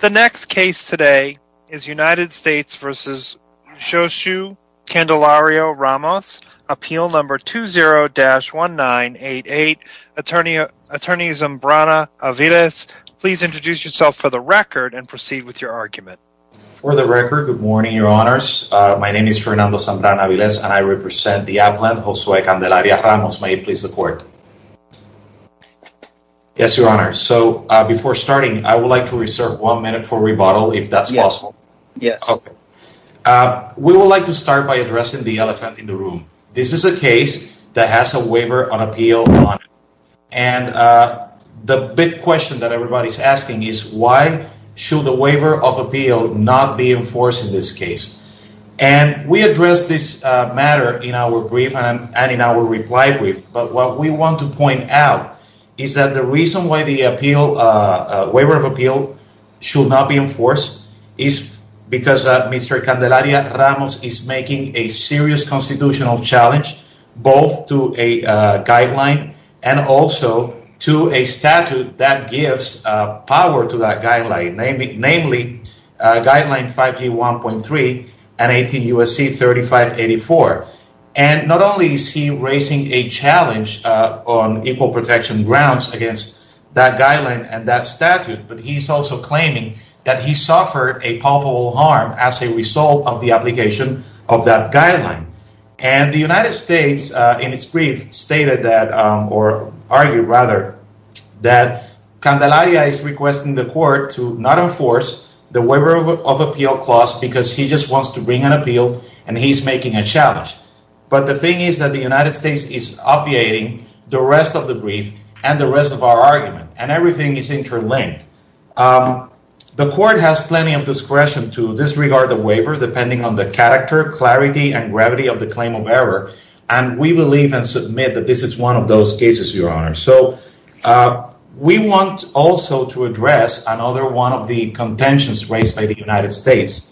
The next case today is United States v. Xochitl Candelario-Ramos, appeal number 20-1988. Attorney Zambrana-Aviles, please introduce yourself for the record and proceed with your argument. For the record, good morning, your honors. My name is Fernando Zambrana-Aviles and I represent the applant Josue Candelario-Ramos. May it please the court. Yes, your honor. So before starting, I would like to reserve one minute for rebuttal if that's possible. We would like to start by addressing the elephant in the room. This is a case that has a waiver on appeal on it. And the big question that everybody's asking is why should the waiver of appeal not be enforced in this case? And we address this matter in our brief and in our reply but what we want to point out is that the reason why the waiver of appeal should not be enforced is because Mr. Candelario-Ramos is making a serious constitutional challenge both to a guideline and also to a statute that gives power to that guideline, namely guideline 51.3 and 18 U.S.C. 3584. And not only is he raising a challenge on equal protection grounds against that guideline and that statute, but he's also claiming that he suffered a palpable harm as a result of the application of that guideline. And the United States in its brief stated that or argued rather that Candelario is requesting the court to not enforce the waiver of appeal clause because he just wants to bring an appeal and he's making a challenge. But the thing is that the United States is obviating the rest of the brief and the rest of our argument and everything is interlinked. The court has plenty of discretion to disregard the waiver depending on the character, clarity, and gravity of the claim of error. And we believe and submit that this is one of those cases, Your Honor. So we want also to address another one of the contentions raised by the United States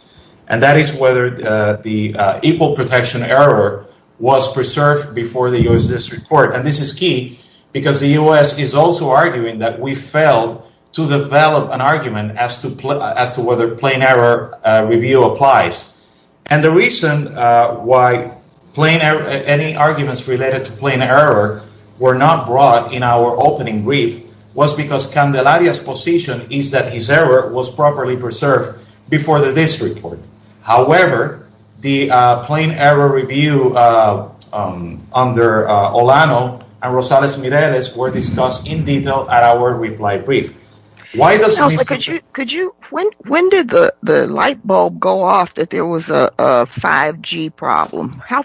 and that is whether the equal protection error was preserved before the U.S. District Court. And this is key because the U.S. is also arguing that we failed to develop an argument as to whether plain error review applies. And the reason why any arguments related to plain error were not brought in our opening brief was because Candelario's position is that his error was However, the plain error review under Olano and Rosales-Mireles were discussed in detail at our reply brief. When did the light bulb go off that there was a 5G problem? How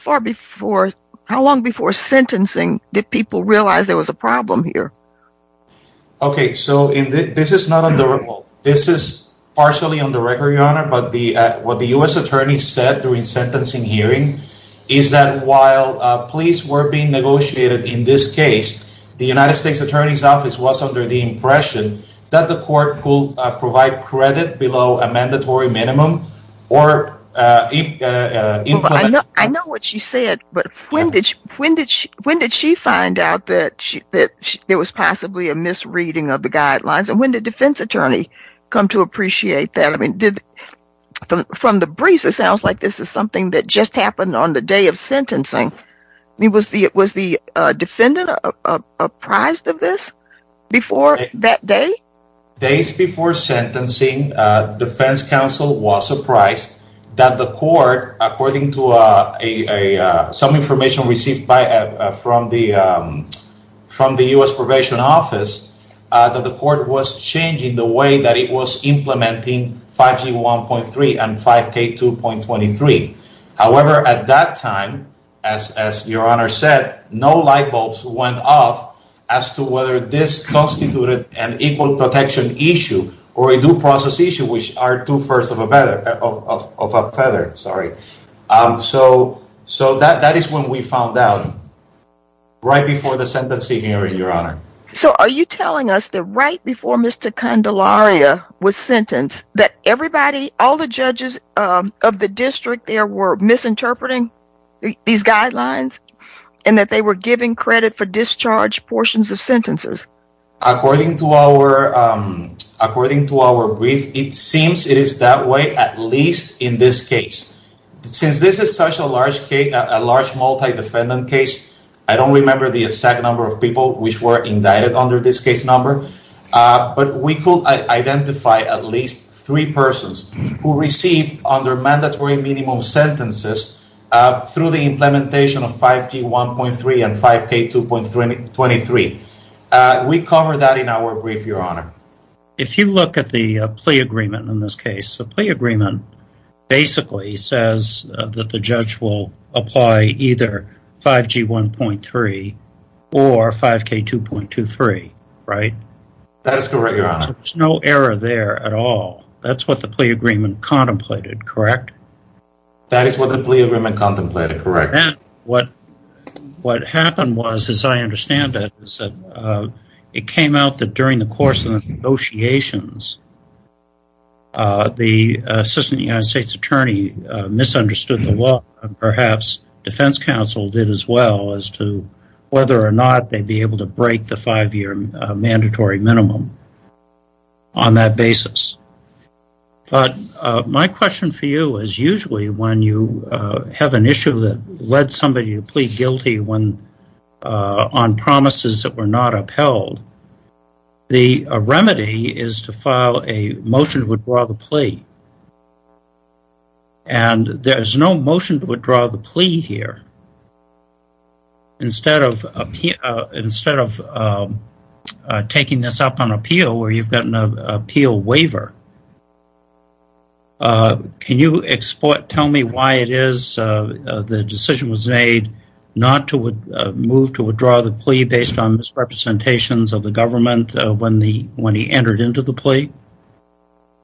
long before sentencing did people realize there was a problem here? Okay, so this is not on the report. This is what the U.S. attorney said during sentencing hearing is that while pleas were being negotiated in this case, the United States Attorney's Office was under the impression that the court could provide credit below a mandatory minimum or implement... I know what she said, but when did she find out that there was possibly a misreading of the guidelines? And when did the defense come to appreciate that? From the briefs, it sounds like this is something that just happened on the day of sentencing. Was the defendant apprised of this before that day? Days before sentencing, defense counsel was surprised that the court, according to some information received from the U.S. probation office, that the court was changing the way that it was implementing 5G 1.3 and 5K 2.23. However, at that time, as your honor said, no light bulbs went off as to whether this constituted an equal protection issue or a due process issue, which are two-thirds of a feather. Sorry. So that is when we found out, right before the sentencing hearing, your honor. So are you telling us that right before Mr. Candelaria was sentenced, that everybody, all the judges of the district there were misinterpreting these guidelines and that they were giving credit for discharge portions of sentences? According to our brief, it seems it is that way, at least in this case. Since this is such a large multi-defendant case, I don't remember the exact number of people which were indicted under this case number, but we could identify at least three persons who received under mandatory minimum sentences through the implementation of 5G 1.3 and 5K 2.23. We covered that in our brief, your honor. If you look at the plea agreement in this case, the plea agreement basically says that the judge will apply either 5G 1.3 or 5K 2.23, right? That is correct, your honor. There's no error there at all. That's what the plea agreement contemplated, correct? That is what the plea agreement contemplated, correct. And what happened was, as I understand it, is that it came out that during the course of the negotiations, the assistant United States attorney misunderstood the law and perhaps defense counsel did as well as to whether or not they'd be able to break the five-year have an issue that led somebody to plead guilty on promises that were not upheld. The remedy is to file a motion to withdraw the plea. And there's no motion to withdraw the plea here. Instead of taking this up on appeal where you've got an appeal waiver, can you tell me why it is the decision was made not to move to withdraw the plea based on misrepresentations of the government when he entered into the plea?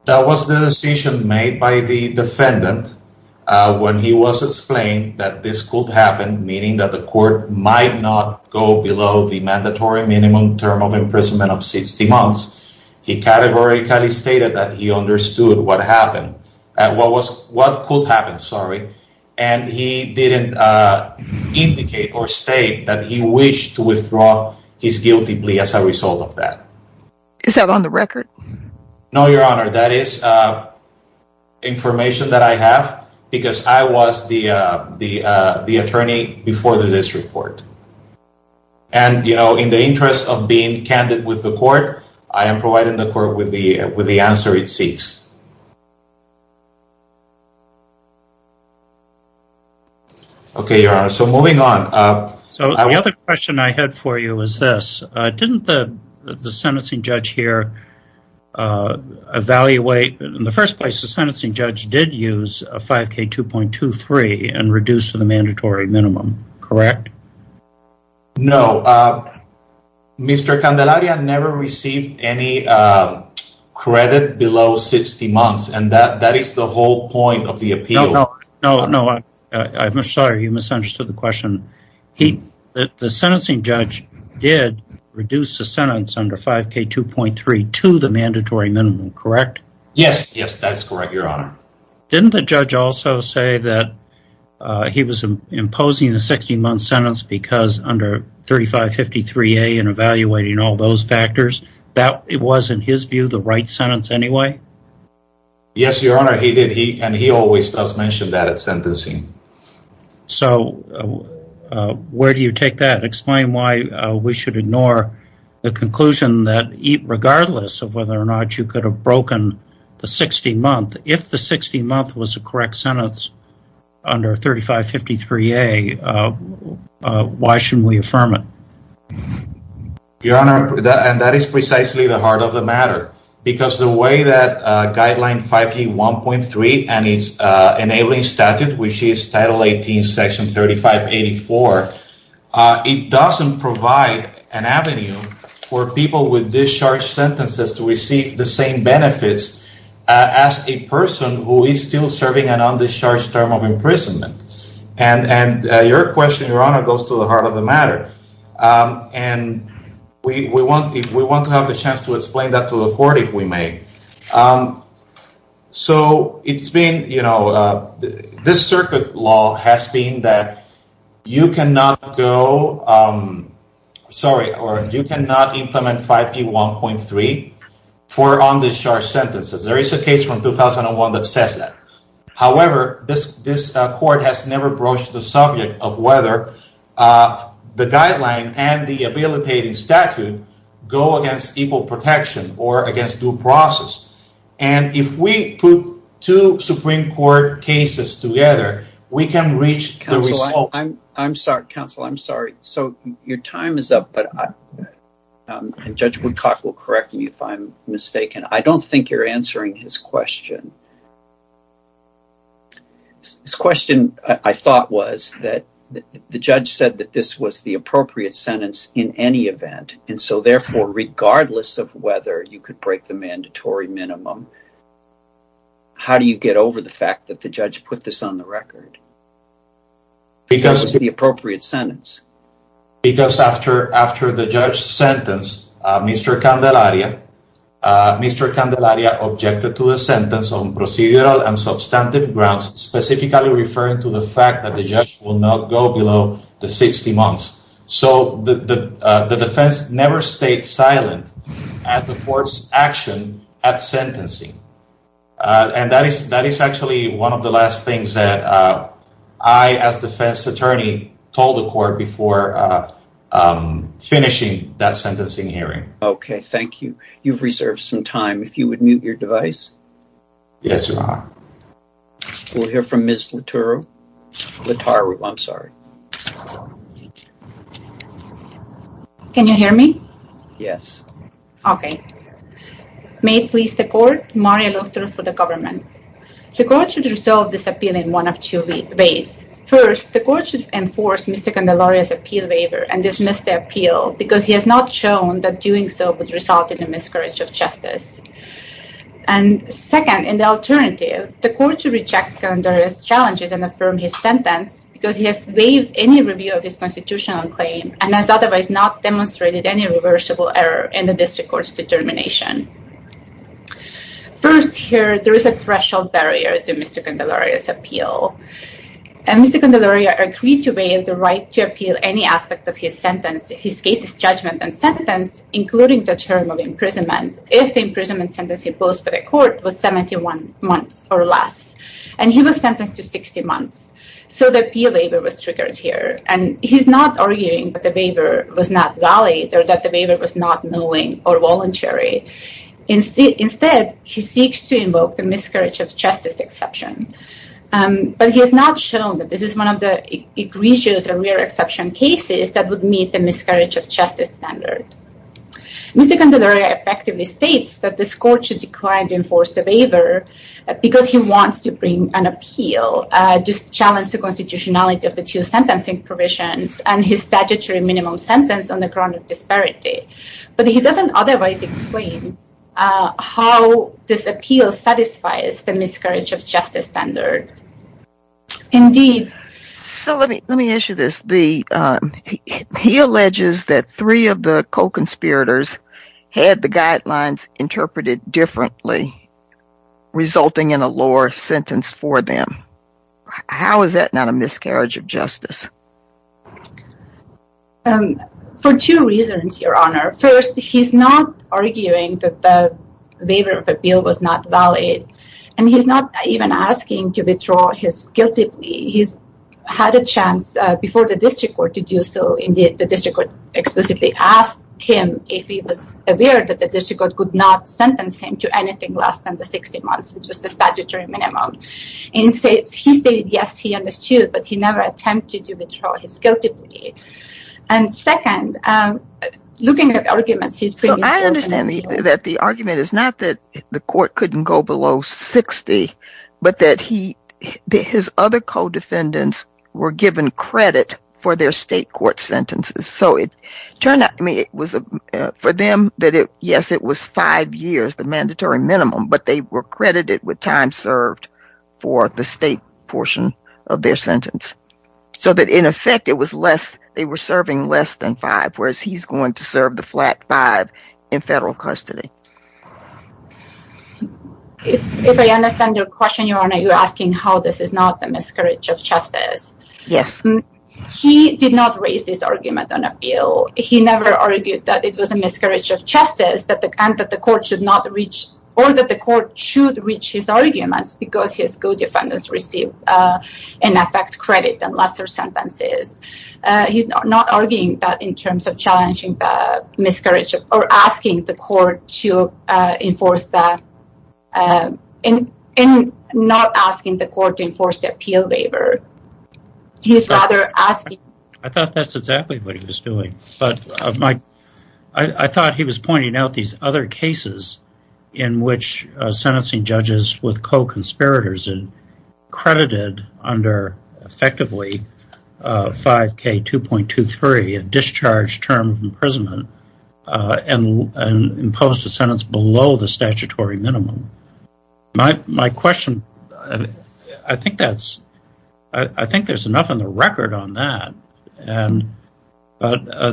That was the decision made by the defendant when he was explained that this could happen, meaning that the court might not go below the mandatory minimum term of imprisonment of 60 what happened. And he didn't indicate or state that he wished to withdraw his guilty plea as a result of that. Is that on the record? No, Your Honor. That is information that I have because I was the attorney before the district court. And, you know, in the interest of being candid with the court, I am providing the court with the answer it seeks. Okay, Your Honor. So moving on. So the other question I had for you is this. Didn't the sentencing judge here evaluate in the first place, the sentencing judge did use a 5k 2.23 and reduce to the mandatory minimum, correct? No. Mr. Candelaria never received any credit below 60 months, and that is the whole point of the appeal. No, no, I'm sorry, you misunderstood the question. The sentencing judge did reduce the sentence under 5k 2.3 to the mandatory minimum, correct? Yes, yes, that's correct, Your Honor. Didn't the judge also say that he was imposing a 60-month sentence because under 3553A and evaluating all those factors, that it was in his view the right sentence anyway? Yes, Your Honor, he did. And he always does mention that at sentencing. So where do you take that? Explain why we should ignore the conclusion that regardless of whether or not you could have broken the 60-month, if the 60-month was a correct sentence under 3553A, why shouldn't we affirm it? Your Honor, and that is precisely the heart of the matter, because the way that guideline 5k 1.3 and its enabling statute, which is title 18, section 3584, it doesn't provide an avenue for people with discharged sentences to receive the same benefits as a person who is still serving an undischarged term of imprisonment. And your question, Your Honor, goes to the heart of the matter. And we want to have the chance to explain that to the court, if we may. So it's been, you know, this circuit law has been that you cannot go, sorry, or you cannot implement 5k 1.3 for undischarged sentences. There is a case from 2001 that says that. However, this court has never broached the subject of whether the guideline and the habilitating statute go against equal protection or against due process. And if we put two Supreme Court cases together, we can reach the result. I'm sorry, counsel, I'm sorry. So your time is up, but Judge Woodcock will correct me if I'm mistaken. I don't think you're answering his question. His question, I thought, was that the judge said that this was the appropriate sentence in any event. And so, therefore, regardless of whether you could break the mandatory minimum, how do you get over the fact that the judge put this on the record? Because it's the appropriate sentence. Because after the judge sentenced Mr. Candelaria, Mr. Candelaria objected to the sentence on substantive grounds, specifically referring to the fact that the judge will not go below the 60 months. So the defense never stayed silent at the court's action at sentencing. And that is actually one of the last things that I, as defense attorney, told the court before finishing that sentencing hearing. Okay, thank you. You've reserved some time. If you would mute your device. Yes, Your Honor. We'll hear from Ms. Lataru. I'm sorry. Can you hear me? Yes. Okay. May it please the court, Maria Lotaru for the government. The court should resolve this appeal in one of two ways. First, the court should enforce Mr. Candelaria's appeal waiver and dismiss the appeal, because he has not shown that doing so would result in a miscarriage of justice. And second, in the alternative, the court should reject Candelaria's challenges and affirm his sentence because he has waived any review of his constitutional claim and has otherwise not demonstrated any reversible error in the district court's determination. First here, there is a threshold barrier to Mr. Candelaria's appeal. And Mr. Candelaria agreed to waive the right to appeal any aspect of his sentence, his case's judgment and sentence, including the term of imprisonment, if the imprisonment sentence imposed by the court was 71 months or less. And he was sentenced to 60 months. So the appeal waiver was triggered here. And he's not arguing that the waiver was not valid or that the waiver was not knowing or voluntary. Instead, he seeks to invoke the miscarriage of justice exception. But he has not shown that this is one of the egregious or rare exception cases that would meet the miscarriage of justice standard. Mr. Candelaria effectively states that this court should decline to enforce the waiver because he wants to bring an appeal to challenge the constitutionality of the two sentencing provisions and his statutory minimum sentence on the ground of disparity. But he doesn't otherwise explain how this appeal satisfies the miscarriage of justice standard. Indeed. So let me let me ask you this. The he alleges that three of the co-conspirators had the guidelines interpreted differently, resulting in a lower sentence for them. How is that not a miscarriage of justice? For two reasons, Your Honor. First, he's not arguing that the waiver of appeal was not valid. And he's not even asking to withdraw his guilty plea. He's had a chance before the district court to do so. Indeed, the district court explicitly asked him if he was aware that the district court could not sentence him to anything less than the 60 months, which was the statutory minimum. And he said, yes, he understood, but he never attempted to withdraw his guilty plea. And second, looking at arguments, he's. So I understand that the argument is not that the court couldn't go below 60, but that his other co-defendants were given credit for their state court sentences. So it turned out for them that, yes, it was five years, the mandatory minimum, but they were credited with time served for the state portion of their sentence. So that, in effect, they were serving less than five, whereas he's going to serve the flat five in federal custody. If I understand your question, Your Honor, you're asking how this is not a miscarriage of justice. Yes. He did not raise this argument on appeal. He never argued that it was a miscarriage of justice, that the court should not reach or that the court should reach his arguments because his co-defendants received in effect credit and lesser sentences. He's not arguing that in terms of challenging the miscarriage or asking the court to enforce that and not asking the court to enforce the appeal waiver. He's rather asking... I thought that's exactly what he was doing. But I thought he was pointing out these other cases in which sentencing judges with co-conspirators credited under effectively 5k 2.23, a discharge term of imprisonment and imposed a sentence below the statutory minimum. My question, I think there's enough in the record on that.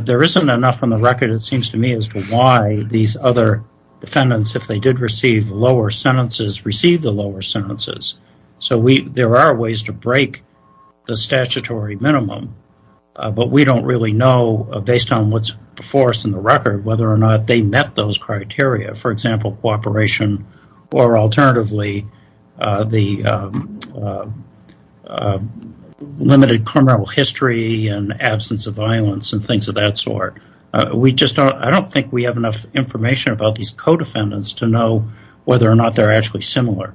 There isn't enough on the record, it seems to me, as to why these other defendants, if they did receive lower sentences, receive the lower sentences. So there are ways to break the statutory minimum, but we don't really know, based on what's before us in the record, whether or not they met those criteria. For example, cooperation or alternatively, the limited criminal history and absence of violence and things of that sort. I don't think we have enough information about these co-defendants to know whether or not they're actually similar.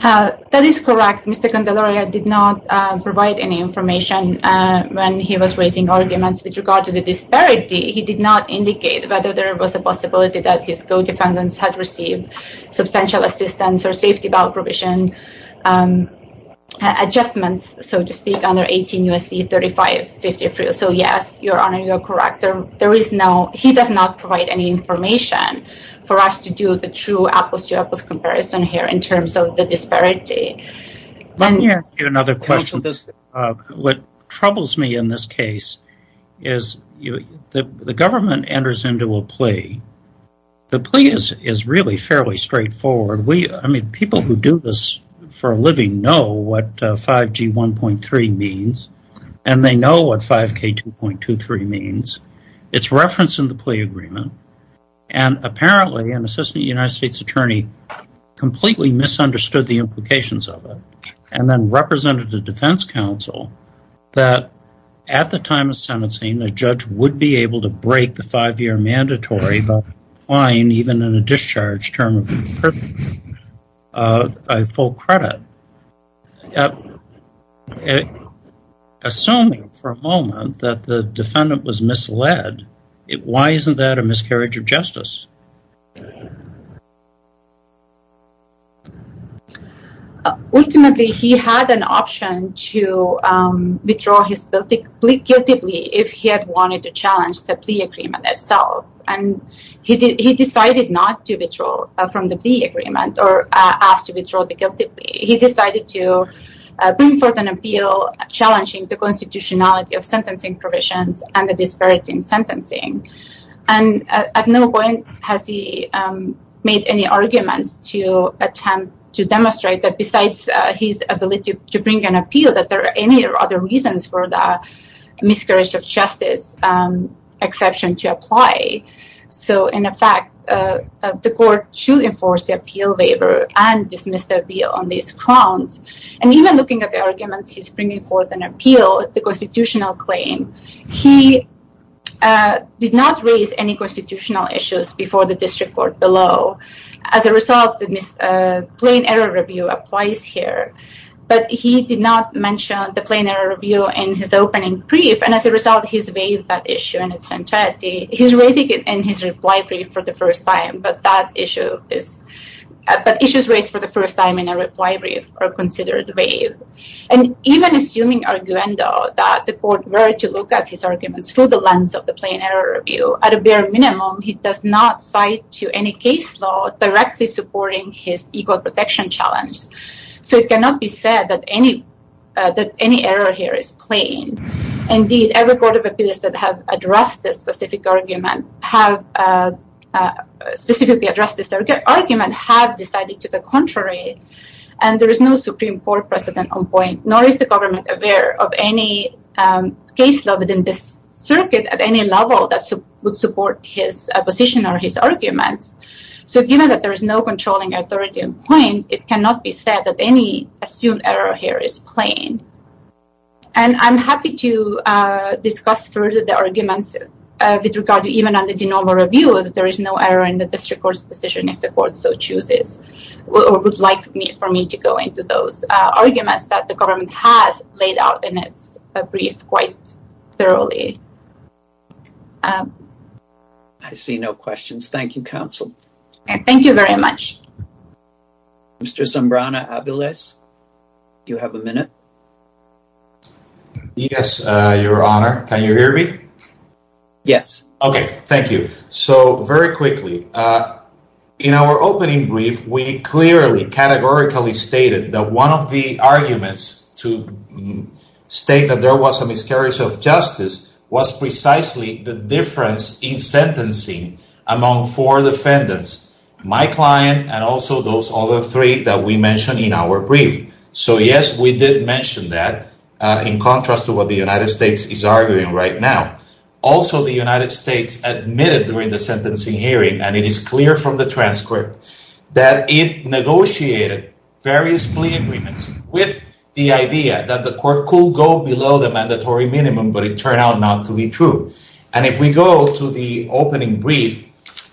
That is correct. Mr. Candelaria did not provide any information when he was raising arguments with regard to the disparity. He did not indicate whether there was a possibility that his co-defendants had received substantial assistance or safety bail provision adjustments, so to speak, under 18 U.S.C. 3553. So yes, Your Honor, you're correct. He does not provide any information for us to do the true apples to apples comparison here in terms of the disparity. Let me ask you another question. What troubles me in this case is the government enters into a plea. The plea is really fairly straightforward. People who do this for a living know what 5G 1.3 means, and they know what 5K 2.23 means. It's referenced in the plea agreement, and apparently an assistant United States attorney completely misunderstood the implications of it. And then represented the defense counsel that at the time of sentencing, the judge would be able to break the five-year mandatory, but fine even in a discharge term of a full credit. Assuming for a moment that the defendant was misled, why isn't that a miscarriage of justice? Ultimately, he had an option to withdraw his guilty plea if he had wanted to challenge the plea agreement itself. And he decided not to withdraw from the plea agreement or ask to withdraw the guilty plea. He decided to bring forth an appeal challenging the constitutionality of sentencing provisions and the disparity in sentencing. And at no point has he made any arguments to attempt to demonstrate that besides his ability to bring an appeal, that there are any other reasons for the miscarriage of justice exception to apply. So in effect, the court should enforce the appeal waiver and dismiss the appeal on these grounds. And even looking at the arguments, he's bringing forth an appeal, the constitutional claim. He did not raise any constitutional issues before the district court below. As a result, the plain error review applies here. But he did not mention the plain error review in his opening brief. And as a result, he's waived that issue in its entirety. He's raising it in his reply brief for the first time, but issues raised for the first time in a reply brief are considered waived. And even assuming arguendo, that the court were to look at his arguments through the lens of the plain error review, at a bare minimum, he does not cite to any case law directly supporting his equal protection challenge. So it cannot be said that any error here is plain. Indeed, every court of appeals that have addressed this specific argument have specifically addressed this argument, have decided to the contrary. And there is no Supreme Court precedent on point, nor is the government aware of any case law within this circuit at any level that would support his position or his arguments. So given that there is no controlling authority on point, it cannot be said that any assumed error here is plain. And I'm happy to discuss further the arguments with regard to even under the normal review, there is no error in the district court's decision if the court so chooses, or would like for me to go into those arguments that the government has laid out in its brief quite thoroughly. I see no questions. Thank you, counsel. Thank you very much. Mr. Zambrana-Aviles, do you have a minute? Yes, your honor. Can you hear me? Yes. Okay, thank you. So very quickly, in our opening brief, we clearly categorically stated that one of the arguments to state that there was a miscarriage of justice was precisely the difference in sentencing among four defendants, my client, and also those other three that we mentioned in our brief. So yes, we did mention that in contrast to what the United States is arguing right now. Also, the United States admitted during the sentencing hearing, and it is clear from the transcript, that it negotiated various plea agreements with the idea that the court could go below the mandatory minimum, but it turned out not to be true. And if we go to the opening brief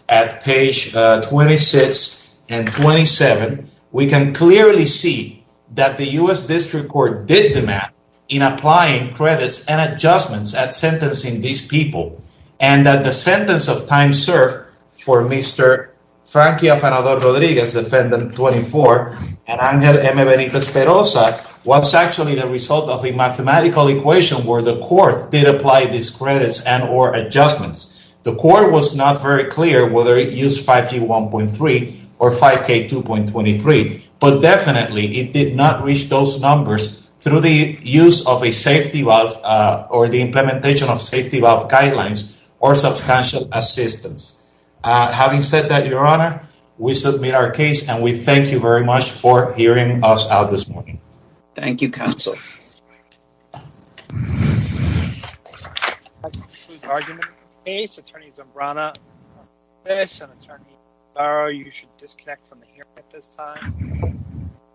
at page 26 and 27, we can clearly see that the U.S. District Court did demand in applying credits and adjustments at sentencing these people, and that the sentence of time served for Mr. Frankie Afanador-Rodriguez, defendant 24, and Angel M. Benitez-Peroza was actually the result of a mathematical equation where the court did apply these credits and or adjustments. The court was not very clear whether it used 5G 1.3 or 5K 2.23, but definitely it did not reach those numbers through the use of a safety valve or the implementation of safety valve guidelines or substantial assistance. Having said that, Your Honor, we submit our case, and we thank you very much for hearing us out this morning. Thank you, counsel.